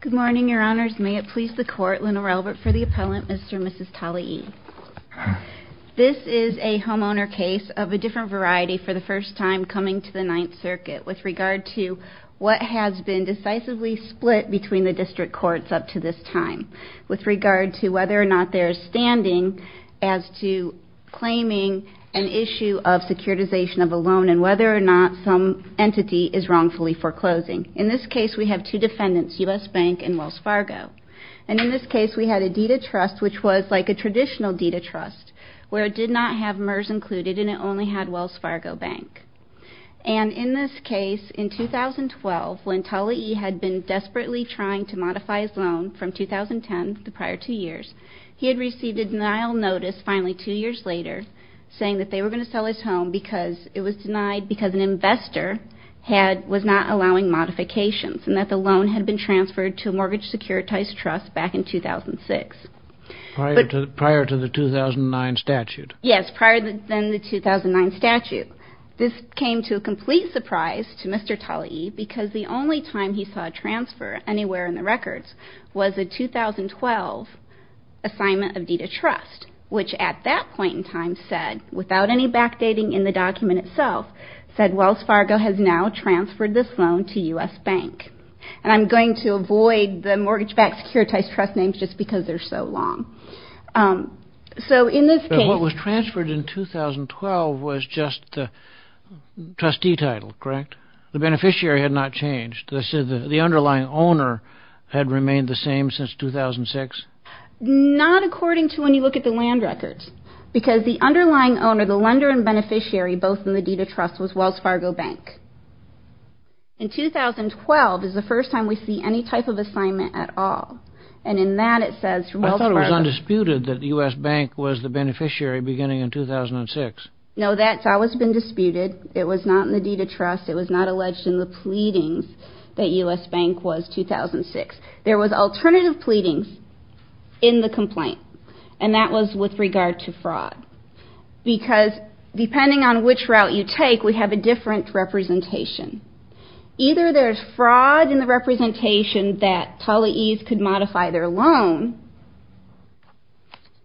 Good morning, Your Honors. May it please the Court, Lenore Albert for the Appellant, Mr. and Mrs. Talaie. This is a homeowner case of a different variety for the first time coming to the Ninth Circuit with regard to what has been decisively split between the District Courts up to this time with regard to whether or not there is standing as to claiming an issue of securitization of a loan and whether or not some entity is wrongfully foreclosing. In this case, we have two defendants, U.S. Bank and Wells Fargo. And in this case, we had a deed of trust which was like a traditional deed of trust where it did not have MERS included and it only had Wells Fargo Bank. And in this case, in 2012, when Talaie had been desperately trying to modify his loan from 2010, the prior two years, he had received a denial notice finally two years later saying that they were going to sell his home because it was denied because an investor was not allowing modifications and that the loan had been transferred to a mortgage securitized trust back in 2006. Prior to the 2009 statute. Yes, prior to then the 2009 statute. This came to a complete surprise to Mr. Talaie because the only time he saw a transfer anywhere in the records was a 2012 assignment of deed of trust, which at that point in time said, without any backdating in the document itself, said Wells Fargo has now transferred this loan to U.S. Bank. And I'm going to avoid the mortgage-backed securitized trust names just because they're so long. So in this case... But what was transferred in 2012 was just the trustee title, correct? The beneficiary had not changed. The underlying owner had remained the same since 2006? Not according to when you look at the land records. Because the underlying owner, the lender and beneficiary, both in the deed of trust, was Wells Fargo Bank. In 2012 is the first time we see any type of assignment at all. And in that it says... I thought it was undisputed that U.S. Bank was the beneficiary beginning in 2006. No, that's always been disputed. It was not in the deed of trust. It was not alleged in the pleadings that U.S. Bank was 2006. There was alternative pleadings in the complaint. And that was with regard to fraud. Because depending on which route you take, we have a different representation. Either there's fraud in the representation that Talleys could modify their loan,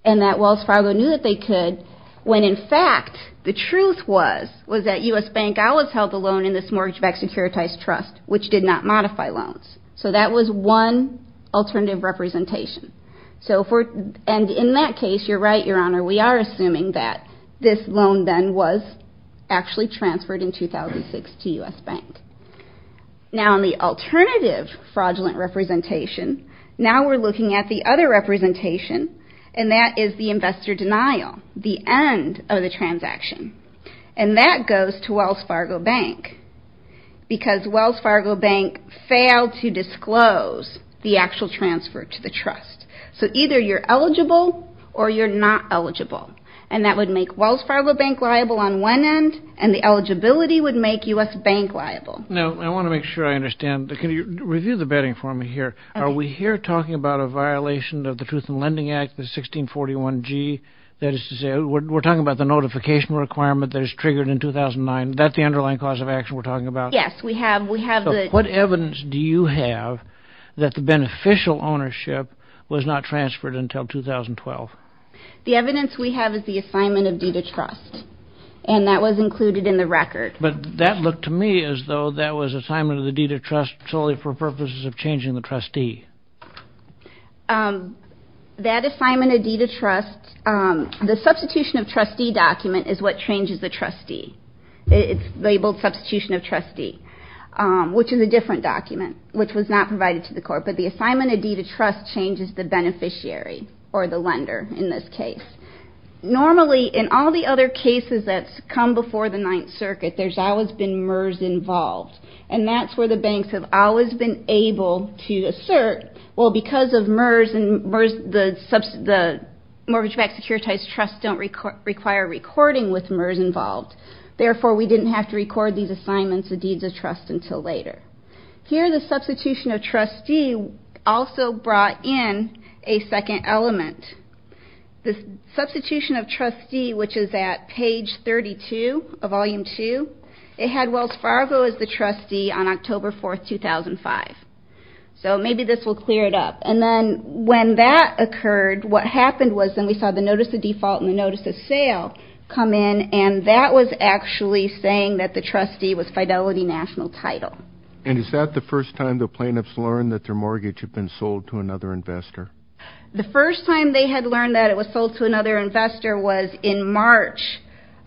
and that Wells Fargo knew that they could, when in fact the truth was that U.S. Bank always held the loan in this mortgage-backed securitized trust, which did not modify loans. So that was one alternative representation. And in that case, you're right, Your Honor, we are assuming that this loan then was actually transferred in 2006 to U.S. Bank. Now in the alternative fraudulent representation, now we're looking at the other representation, and that is the investor denial, the end of the transaction. And that goes to Wells Fargo Bank, because Wells Fargo Bank failed to disclose the actual transfer to the trust. So either you're eligible or you're not eligible. And that would make Wells Fargo Bank liable on one end, and the eligibility would make U.S. Bank liable. Now, I want to make sure I understand. Can you review the betting for me here? Are we here talking about a violation of the Truth in Lending Act, the 1641G? That is to say, we're talking about the notification requirement that was triggered in 2009. Is that the underlying cause of action we're talking about? Yes, we have. So what evidence do you have that the beneficial ownership was not transferred until 2012? The evidence we have is the assignment of deed of trust, and that was included in the record. But that looked to me as though that was assignment of the deed of trust solely for purposes of changing the trustee. That assignment of deed of trust, the substitution of trustee document is what changes the trustee. It's labeled substitution of trustee, which is a different document, which was not provided to the court. But the assignment of deed of trust changes the beneficiary or the lender in this case. Normally, in all the other cases that come before the Ninth Circuit, there's always been MERS involved. And that's where the banks have always been able to assert, Well, because of MERS, the mortgage-backed securitized trusts don't require recording with MERS involved. Therefore, we didn't have to record these assignments of deeds of trust until later. Here, the substitution of trustee also brought in a second element. The substitution of trustee, which is at page 32 of Volume 2, it had Wells Fargo as the trustee on October 4, 2005. So maybe this will clear it up. And then when that occurred, what happened was then we saw the notice of default and the notice of sale come in. And that was actually saying that the trustee was Fidelity National Title. And is that the first time the plaintiffs learned that their mortgage had been sold to another investor? The first time they had learned that it was sold to another investor was in March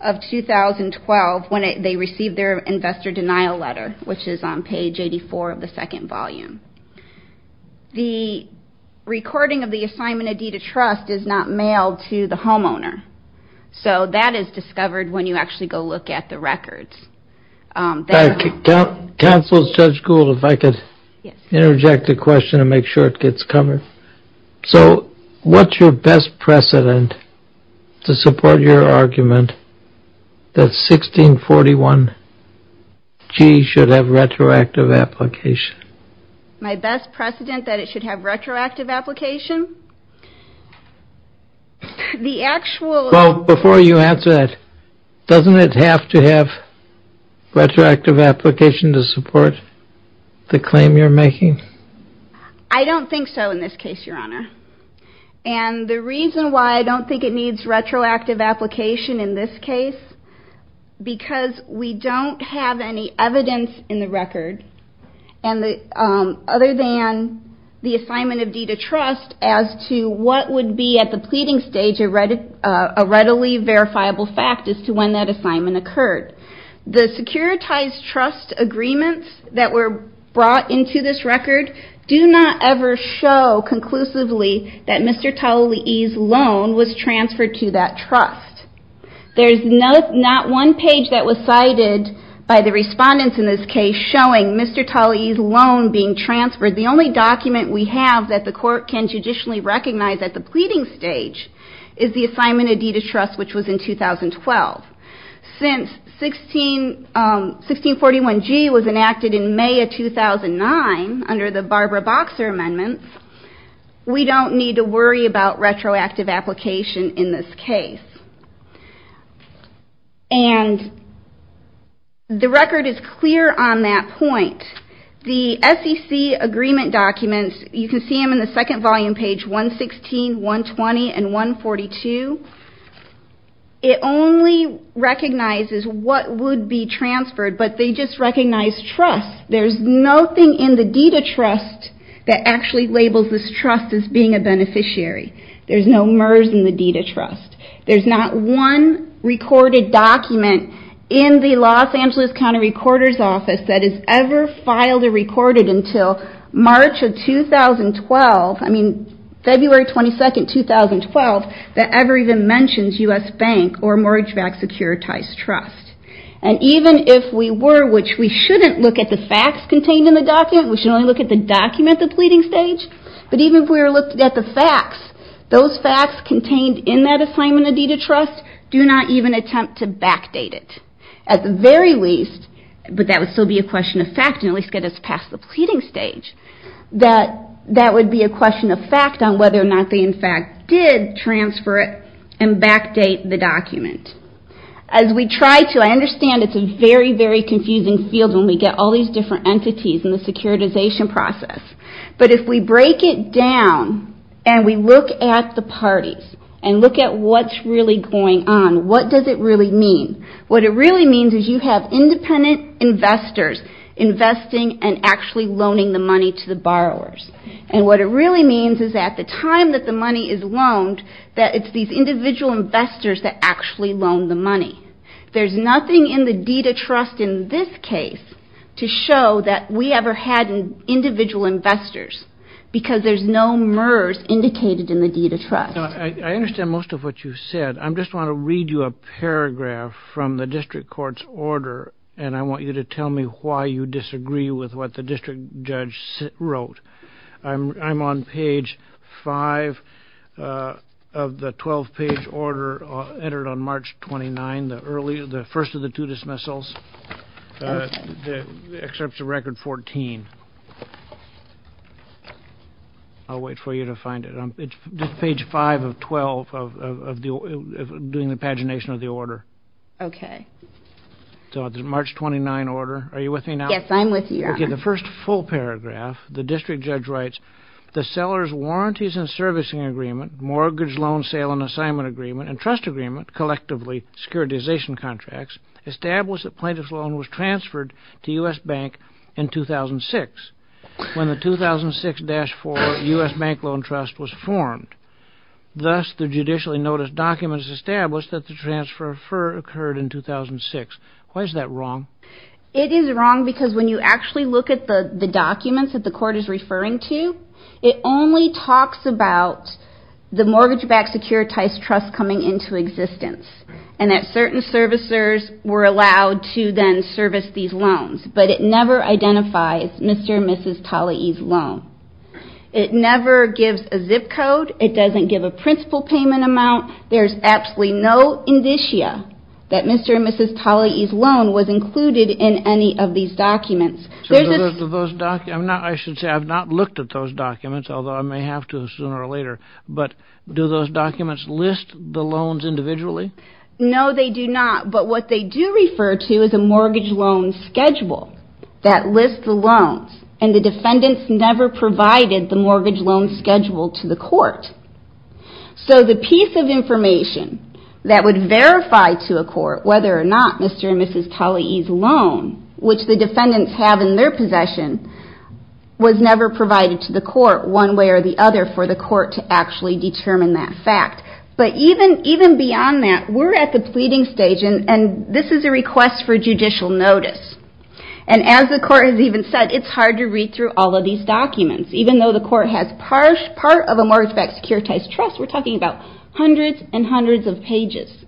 of 2012, when they received their investor denial letter, which is on page 84 of the second volume. The recording of the assignment of deed of trust is not mailed to the homeowner. So that is discovered when you actually go look at the records. Counsel, Judge Gould, if I could interject a question and make sure it gets covered. So what's your best precedent to support your argument that 1641G should have retroactive application? My best precedent that it should have retroactive application? The actual... Well, before you answer that, doesn't it have to have retroactive application to support the claim you're making? I don't think so in this case, Your Honor. And the reason why I don't think it needs retroactive application in this case, because we don't have any evidence in the record other than the assignment of deed of trust as to what would be at the pleading stage a readily verifiable fact as to when that assignment occurred. The securitized trust agreements that were brought into this record do not ever show conclusively that Mr. Talley's loan was transferred to that trust. There's not one page that was cited by the respondents in this case showing Mr. Talley's loan being transferred. The only document we have that the court can judicially recognize at the pleading stage is the assignment of deed of trust, which was in 2012. Since 1641G was enacted in May of 2009 under the Barbara Boxer amendments, we don't need to worry about retroactive application in this case. And the record is clear on that point. The SEC agreement documents, you can see them in the second volume, page 116, 120, and 142. It only recognizes what would be transferred, but they just recognize trust. There's nothing in the deed of trust that actually labels this trust as being a beneficiary. There's no MERS in the deed of trust. There's not one recorded document in the Los Angeles County Recorder's Office that is ever filed or recorded until March of 2012, I mean February 22nd, 2012, that ever even mentions U.S. Bank or mortgage-backed securitized trust. And even if we were, which we shouldn't look at the facts contained in the document, we should only look at the document at the pleading stage, but even if we were looking at the facts, those facts contained in that assignment of deed of trust do not even attempt to backdate it. At the very least, but that would still be a question of fact and at least get us past the pleading stage, that that would be a question of fact on whether or not they in fact did transfer it and backdate the document. As we try to, I understand it's a very, very confusing field when we get all these different entities in the securitization process, but if we break it down and we look at the parties and look at what's really going on, what does it really mean? What it really means is you have independent investors investing and actually loaning the money to the borrowers. And what it really means is at the time that the money is loaned, that it's these individual investors that actually loan the money. There's nothing in the deed of trust in this case to show that we ever had individual investors because there's no MERS indicated in the deed of trust. I understand most of what you said. I just want to read you a paragraph from the district court's order, and I want you to tell me why you disagree with what the district judge wrote. I'm on page 5 of the 12-page order entered on March 29, the first of the two dismissals, except for record 14. I'll wait for you to find it. It's page 5 of 12 of doing the pagination of the order. Okay. So the March 29 order. Are you with me now? Yes, I'm with you, Your Honor. Okay. The first full paragraph, the district judge writes, the seller's warranties and servicing agreement, mortgage loan sale and assignment agreement, and trust agreement, collectively securitization contracts, established that plaintiff's loan was transferred to U.S. Bank in 2006 when the 2006-4 U.S. Bank Loan Trust was formed. Thus, the judicially noticed documents established that the transfer occurred in 2006. Why is that wrong? It is wrong because when you actually look at the documents that the court is referring to, it only talks about the mortgage-backed securitized trust coming into existence and that certain servicers were allowed to then service these loans, but it never identifies Mr. and Mrs. Talley's loan. It never gives a zip code. It doesn't give a principal payment amount. There's absolutely no indicia that Mr. and Mrs. Talley's loan was included in any of these documents. I should say I've not looked at those documents, although I may have to sooner or later, but do those documents list the loans individually? No, they do not. But what they do refer to is a mortgage loan schedule that lists the loans, and the defendants never provided the mortgage loan schedule to the court. So the piece of information that would verify to a court whether or not Mr. and Mrs. Talley's loan, which the defendants have in their possession, was never provided to the court one way or the other for the court to actually determine that fact. But even beyond that, we're at the pleading stage, and this is a request for judicial notice. And as the court has even said, it's hard to read through all of these documents, even though the court has part of a mortgage-backed securitized trust. We're talking about hundreds and hundreds of pages.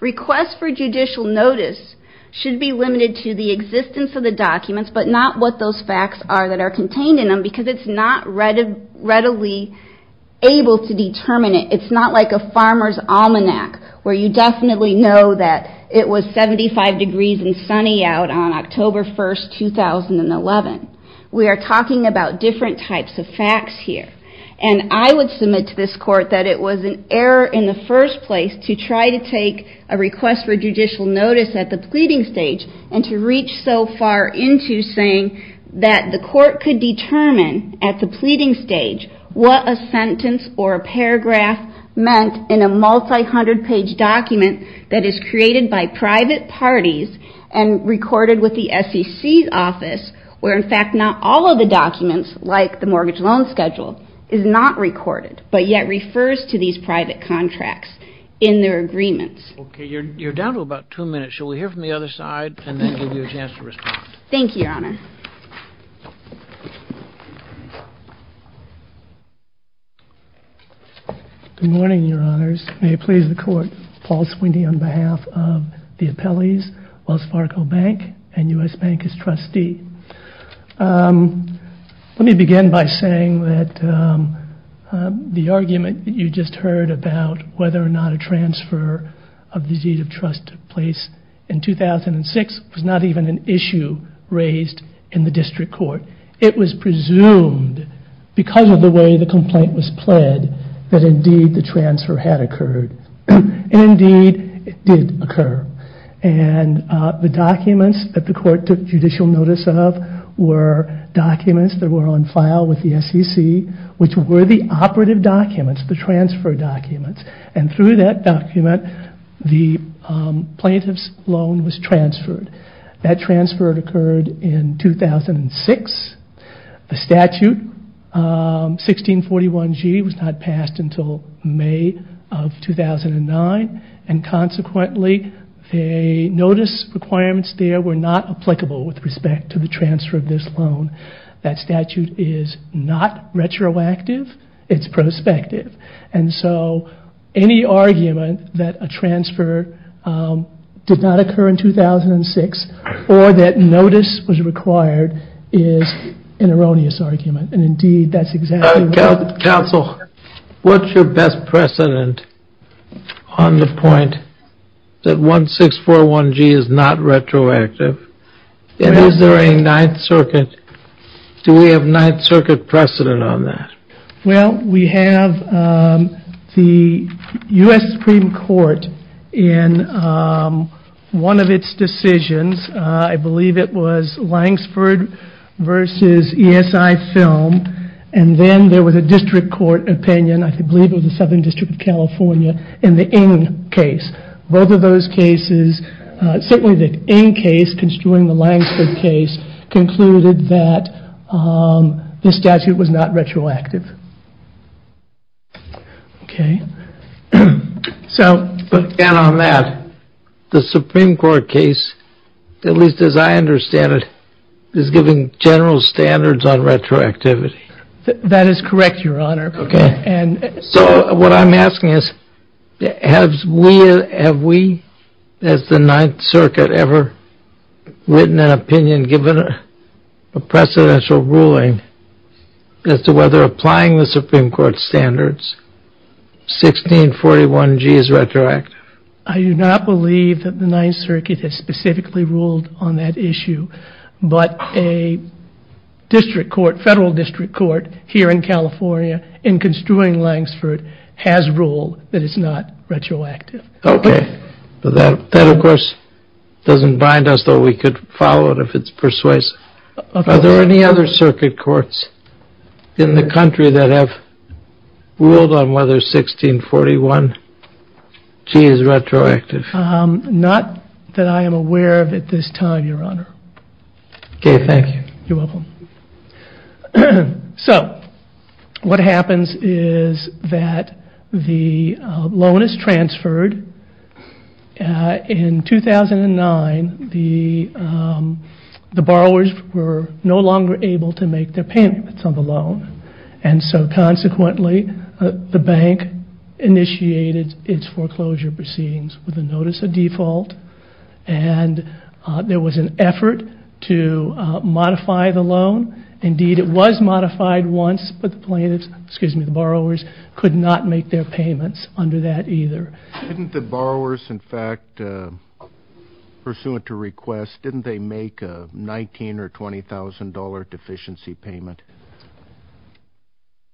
Requests for judicial notice should be limited to the existence of the documents, but not what those facts are that are contained in them, because it's not readily able to determine it. It's not like a farmer's almanac, where you definitely know that it was 75 degrees and sunny out on October 1, 2011. We are talking about different types of facts here. And I would submit to this court that it was an error in the first place to try to take a request for judicial notice at the pleading stage and to reach so far into saying that the court could determine at the pleading stage what a sentence or a paragraph meant in a multi-hundred page document that is created by private parties and recorded with the SEC's office, where in fact not all of the documents, like the mortgage loan schedule, is not recorded, but yet refers to these private contracts in their agreements. Okay. You're down to about two minutes. Shall we hear from the other side and then give you a chance to respond? Thank you, Your Honor. Good morning, Your Honors. May it please the court. Paul Swindy on behalf of the appellees, Wells Fargo Bank and U.S. Bank as trustee. Let me begin by saying that the argument that you just heard about whether or not a transfer of the deed of trust took place in 2006 was not even an issue raised in the district court. It was presumed, because of the way the complaint was pled, that indeed the transfer had occurred. And indeed it did occur. And the documents that the court took judicial notice of were documents that were on file with the SEC, which were the operative documents, the transfer documents. And through that document, the plaintiff's loan was transferred. That transfer occurred in 2006. The statute, 1641G, was not passed until May of 2009. And consequently, the notice requirements there were not applicable with respect to the transfer of this loan. That statute is not retroactive. It's prospective. And so any argument that a transfer did not occur in 2006 or that notice was required is an erroneous argument. And indeed that's exactly what happened. Counsel, what's your best precedent on the point that 1641G is not retroactive? And is there a Ninth Circuit, do we have Ninth Circuit precedent on that? Well, we have the U.S. Supreme Court in one of its decisions. I believe it was Langsford v. ESI Film. And then there was a district court opinion, I believe it was the Southern District of California, in the Ng case. Both of those cases, certainly the Ng case, construing the Langsford case, concluded that this statute was not retroactive. OK. So. And on that, the Supreme Court case, at least as I understand it, is giving general standards on retroactivity. That is correct, Your Honor. OK. So what I'm asking is, have we as the Ninth Circuit ever written an opinion, given a precedential ruling, as to whether applying the Supreme Court standards, 1641G is retroactive? I do not believe that the Ninth Circuit has specifically ruled on that issue. But a district court, federal district court, here in California, in construing Langsford, has ruled that it's not retroactive. OK. That, of course, doesn't bind us, though we could follow it if it's persuasive. Are there any other circuit courts in the country that have ruled on whether 1641G is retroactive? Not that I am aware of at this time, Your Honor. OK, thank you. You're welcome. So, what happens is that the loan is transferred. In 2009, the borrowers were no longer able to make their payments on the loan. And so, consequently, the bank initiated its foreclosure proceedings with a notice of default. And there was an effort to modify the loan. Indeed, it was modified once, but the plaintiffs, excuse me, the borrowers, could not make their payments under that either. Didn't the borrowers, in fact, pursuant to request, didn't they make a $19,000 or $20,000 deficiency payment?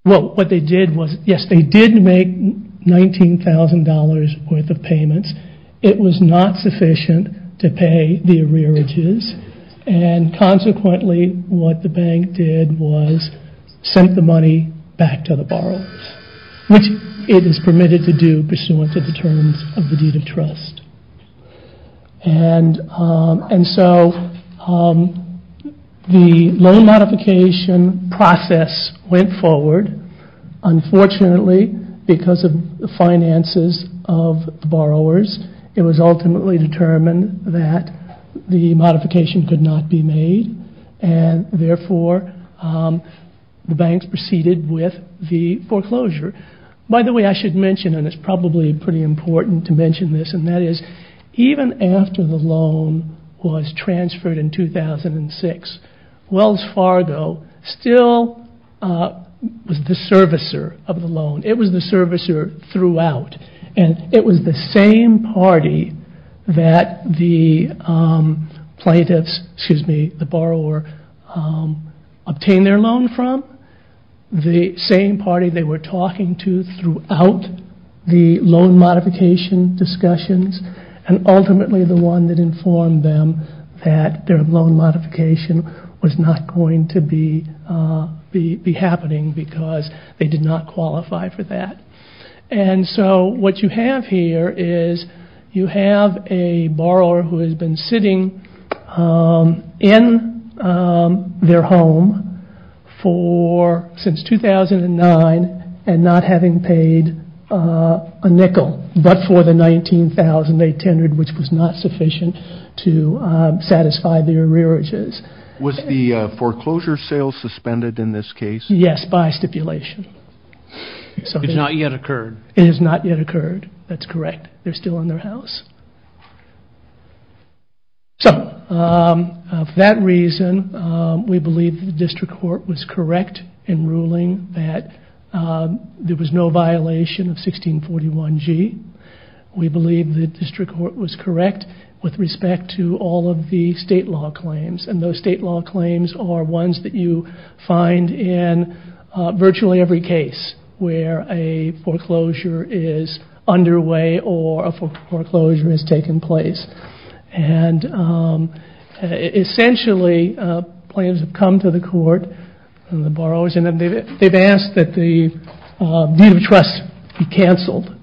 Well, what they did was, yes, they did make $19,000 worth of payments. It was not sufficient to pay the arrearages. And consequently, what the bank did was sent the money back to the borrowers, which it is permitted to do pursuant to the terms of the deed of trust. And so, the loan modification process went forward. Unfortunately, because of the finances of the borrowers, it was ultimately determined that the modification could not be made. And therefore, the banks proceeded with the foreclosure. By the way, I should mention, and it's probably pretty important to mention this, and that is even after the loan was transferred in 2006, Wells Fargo still was the servicer of the loan. It was the servicer throughout, and it was the same party that the plaintiffs, excuse me, the borrower, obtained their loan from, the same party they were talking to throughout the loan modification discussions, and ultimately the one that informed them that their loan modification was not going to be happening because they did not qualify for that. And so, what you have here is you have a borrower who has been sitting in their home since 2009 and not having paid a nickel but for the $19,800, which was not sufficient to satisfy their arrearages. Was the foreclosure sale suspended in this case? Yes, by stipulation. It has not yet occurred. It has not yet occurred, that's correct. They're still in their house. So, for that reason, we believe the district court was correct in ruling that there was no violation of 1641G. We believe the district court was correct with respect to all of the state law claims, and those state law claims are ones that you find in virtually every case where a foreclosure is underway or a foreclosure has taken place. And essentially, claims have come to the court from the borrowers, and they've asked that the deed of trust be canceled.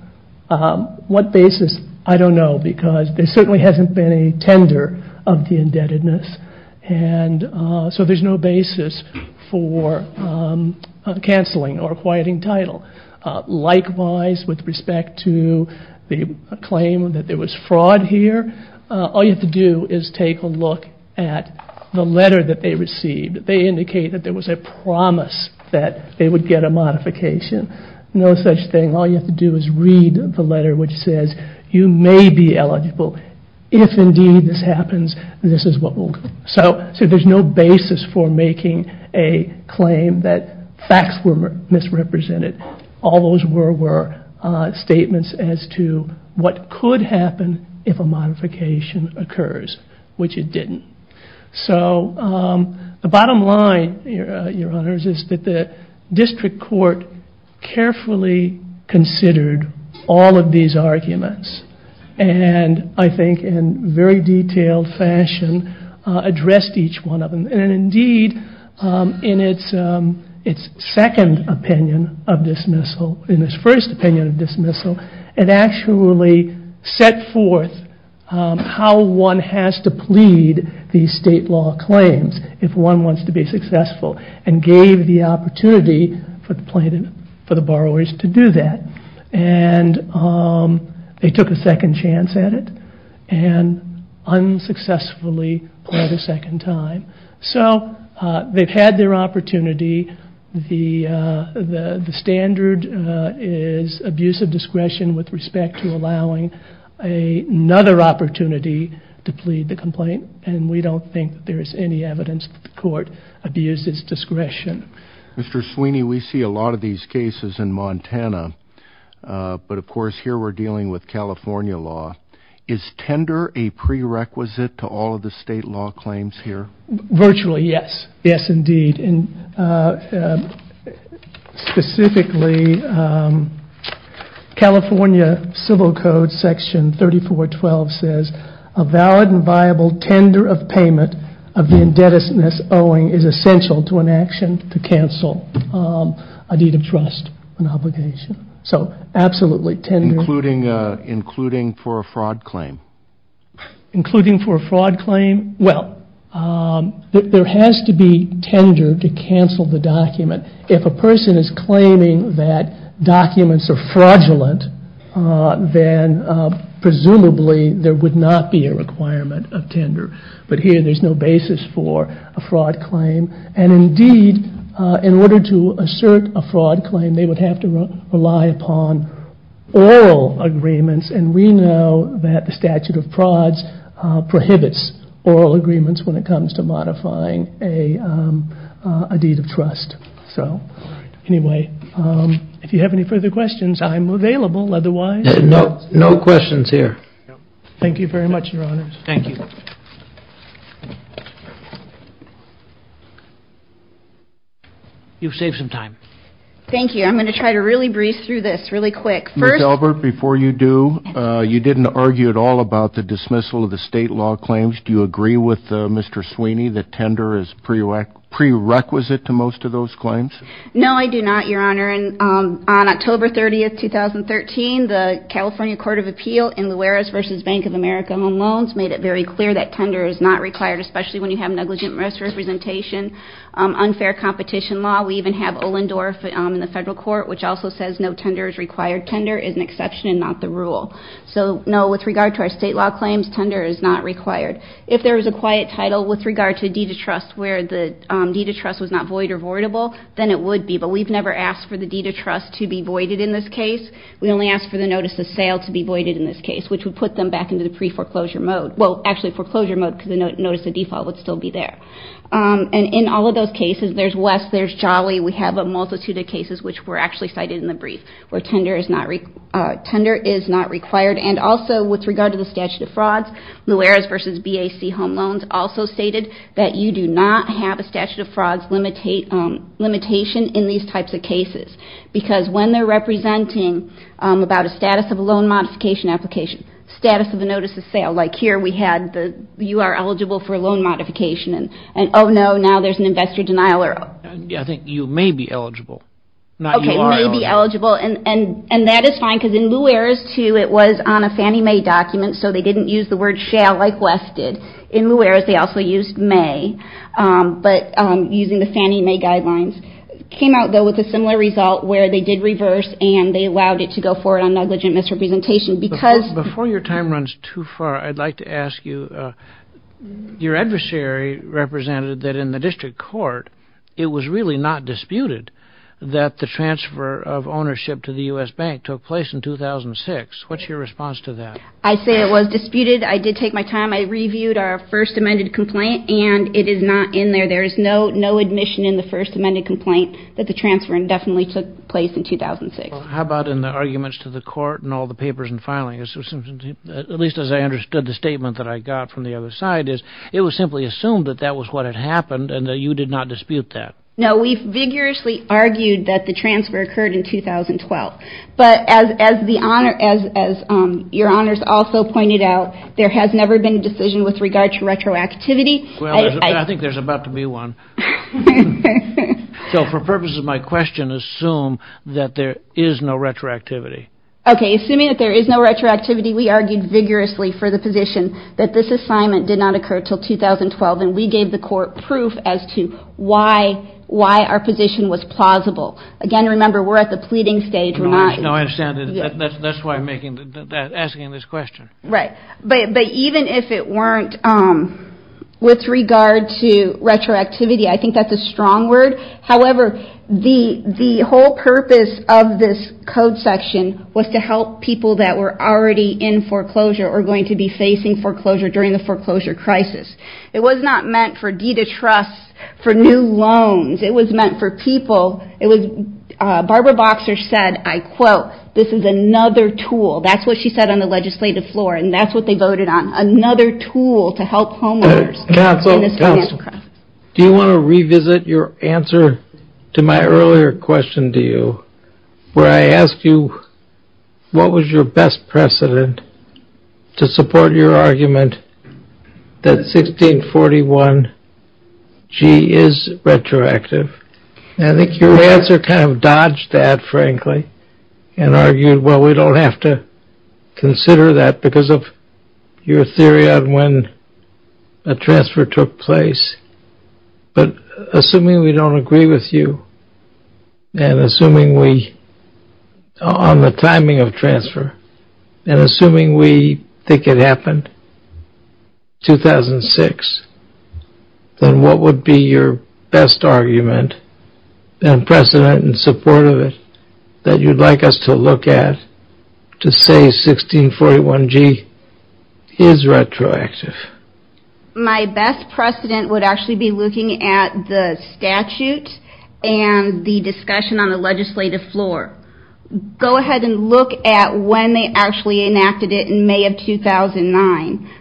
What basis? I don't know because there certainly hasn't been a tender of the indebtedness, and so there's no basis for canceling or acquiring title. Likewise, with respect to the claim that there was fraud here, all you have to do is take a look at the letter that they received. They indicate that there was a promise that they would get a modification. No such thing. All you have to do is read the letter, which says, you may be eligible. If, indeed, this happens, this is what will come. So there's no basis for making a claim that facts were misrepresented. All those were statements as to what could happen if a modification occurs, which it didn't. So the bottom line, Your Honors, is that the district court carefully considered all of these arguments and, I think, in very detailed fashion, addressed each one of them. And, indeed, in its second opinion of dismissal, in its first opinion of dismissal, it actually set forth how one has to plead these state law claims if one wants to be successful and gave the opportunity for the borrowers to do that. And they took a second chance at it and unsuccessfully pleaded a second time. So they've had their opportunity. The standard is abuse of discretion with respect to allowing another opportunity to plead the complaint, and we don't think there is any evidence that the court abused its discretion. Mr. Sweeney, we see a lot of these cases in Montana, but, of course, here we're dealing with California law. Is tender a prerequisite to all of the state law claims here? Virtually, yes. Yes, indeed. Specifically, California Civil Code Section 3412 says, a valid and viable tender of payment of the indebtedness owing is essential to an action to cancel a deed of trust and obligation. So, absolutely, tender. Including for a fraud claim? Including for a fraud claim? Well, there has to be tender to cancel the document. If a person is claiming that documents are fraudulent, then presumably there would not be a requirement of tender. But here there's no basis for a fraud claim. And, indeed, in order to assert a fraud claim, they would have to rely upon oral agreements, and we know that the statute of frauds prohibits oral agreements when it comes to modifying a deed of trust. So, anyway, if you have any further questions, I'm available otherwise. No questions here. Thank you very much, Your Honors. Thank you. You've saved some time. Thank you. I'm going to try to really breeze through this really quick. Ms. Albert, before you do, you didn't argue at all about the dismissal of the state law claims. Do you agree with Mr. Sweeney that tender is prerequisite to most of those claims? No, I do not, Your Honor. On October 30, 2013, the California Court of Appeal in Luares v. Bank of America Home Loans made it very clear that tender is not required, especially when you have negligent misrepresentation, unfair competition law. We even have Ohlendorf in the federal court, which also says no tender is required. Tender is an exception and not the rule. So, no, with regard to our state law claims, tender is not required. If there was a quiet title with regard to a deed of trust where the deed of trust was not void or voidable, then it would be. But we've never asked for the deed of trust to be voided in this case. We only asked for the notice of sale to be voided in this case, which would put them back into the pre-foreclosure mode. Well, actually foreclosure mode because the notice of default would still be there. And in all of those cases, there's West, there's Jolly, we have a multitude of cases which were actually cited in the brief where tender is not required. And also, with regard to the statute of frauds, Luares v. BAC Home Loans also stated that you do not have a statute of frauds limitation in these types of cases. Because when they're representing about a status of a loan modification application, status of a notice of sale, like here we had you are eligible for a loan modification and, oh, no, now there's an investor denial error. I think you may be eligible, not you are eligible. Okay, may be eligible. And that is fine because in Luares, too, it was on a Fannie Mae document, so they didn't use the word shale like West did. In Luares, they also used Mae, but using the Fannie Mae guidelines. It came out, though, with a similar result where they did reverse and they allowed it to go forward on negligent misrepresentation because- Before your time runs too far, I'd like to ask you, your adversary represented that in the district court, it was really not disputed that the transfer of ownership to the U.S. Bank took place in 2006. What's your response to that? I say it was disputed. I did take my time. I reviewed our first amended complaint, and it is not in there. There is no admission in the first amended complaint that the transfer indefinitely took place in 2006. How about in the arguments to the court and all the papers and filings? At least as I understood the statement that I got from the other side is it was simply assumed that that was what had happened and that you did not dispute that. No, we've vigorously argued that the transfer occurred in 2012. But as your honors also pointed out, there has never been a decision with regard to retroactivity. I think there's about to be one. So for purposes of my question, assume that there is no retroactivity. Okay, assuming that there is no retroactivity, we argued vigorously for the position that this assignment did not occur until 2012, and we gave the court proof as to why our position was plausible. Again, remember, we're at the pleading stage. No, I understand. That's why I'm asking this question. Right. But even if it weren't with regard to retroactivity, I think that's a strong word. However, the whole purpose of this code section was to help people that were already in foreclosure or going to be facing foreclosure during the foreclosure crisis. It was not meant for deed of trust, for new loans. It was meant for people. Barbara Boxer said, I quote, this is another tool. That's what she said on the legislative floor, and that's what they voted on. Another tool to help homeowners. Counsel, do you want to revisit your answer to my earlier question to you, where I asked you what was your best precedent to support your argument that 1641G is retroactive? I think your answer kind of dodged that, frankly, and argued, well, we don't have to consider that because of your theory on when a transfer took place. But assuming we don't agree with you, and assuming we, on the timing of transfer, and assuming we think it happened 2006, then what would be your best argument and precedent in support of it that you'd like us to look at to say 1641G is retroactive? My best precedent would actually be looking at the statute and the discussion on the legislative floor. Go ahead and look at when they actually enacted it in May of 2009.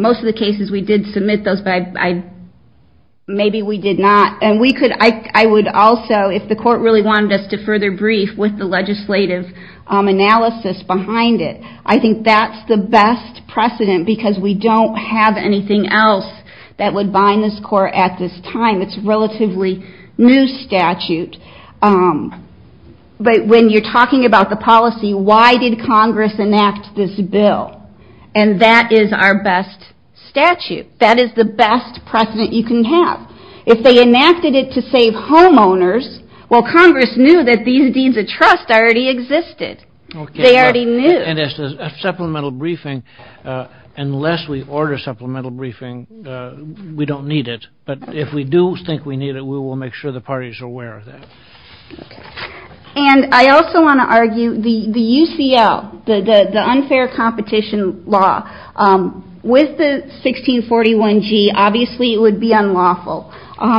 Most of the cases we did submit those, but maybe we did not. And I would also, if the court really wanted us to further brief with the legislative analysis behind it, I think that's the best precedent because we don't have anything else that would bind this court at this time. It's a relatively new statute. When you're talking about the policy, why did Congress enact this bill? And that is our best statute. That is the best precedent you can have. If they enacted it to save homeowners, well, Congress knew that these deeds of trust already existed. They already knew. And as a supplemental briefing, unless we order supplemental briefing, we don't need it. But if we do think we need it, we will make sure the party is aware of that. And I also want to argue the UCL, the unfair competition law, with the 1641G, obviously it would be unlawful.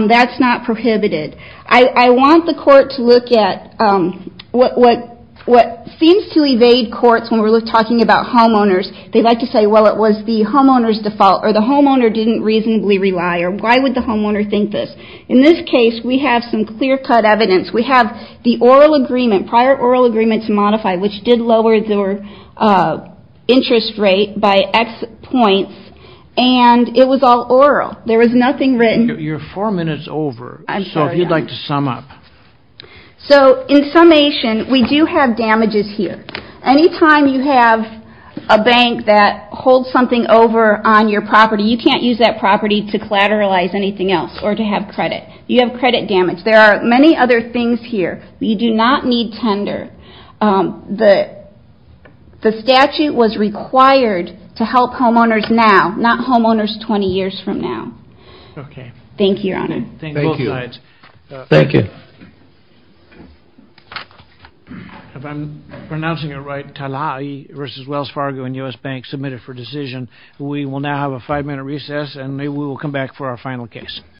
That's not prohibited. I want the court to look at what seems to evade courts when we're talking about homeowners. They like to say, well, it was the homeowner's default, or the homeowner didn't reasonably rely, or why would the homeowner think this? In this case, we have some clear-cut evidence. We have the oral agreement, prior oral agreement to modify, which did lower their interest rate by X points, and it was all oral. There was nothing written. You're four minutes over, so if you'd like to sum up. So in summation, we do have damages here. Anytime you have a bank that holds something over on your property, you can't use that property to collateralize anything else or to have credit. You have credit damage. There are many other things here. You do not need tender. The statute was required to help homeowners now, not homeowners 20 years from now. Okay. Thank you, Your Honor. Thank you. Thank you. If I'm pronouncing it right, Talahi v. Wells Fargo and U.S. Bank submitted for decision. We will now have a five-minute recess, and maybe we will come back for our final case.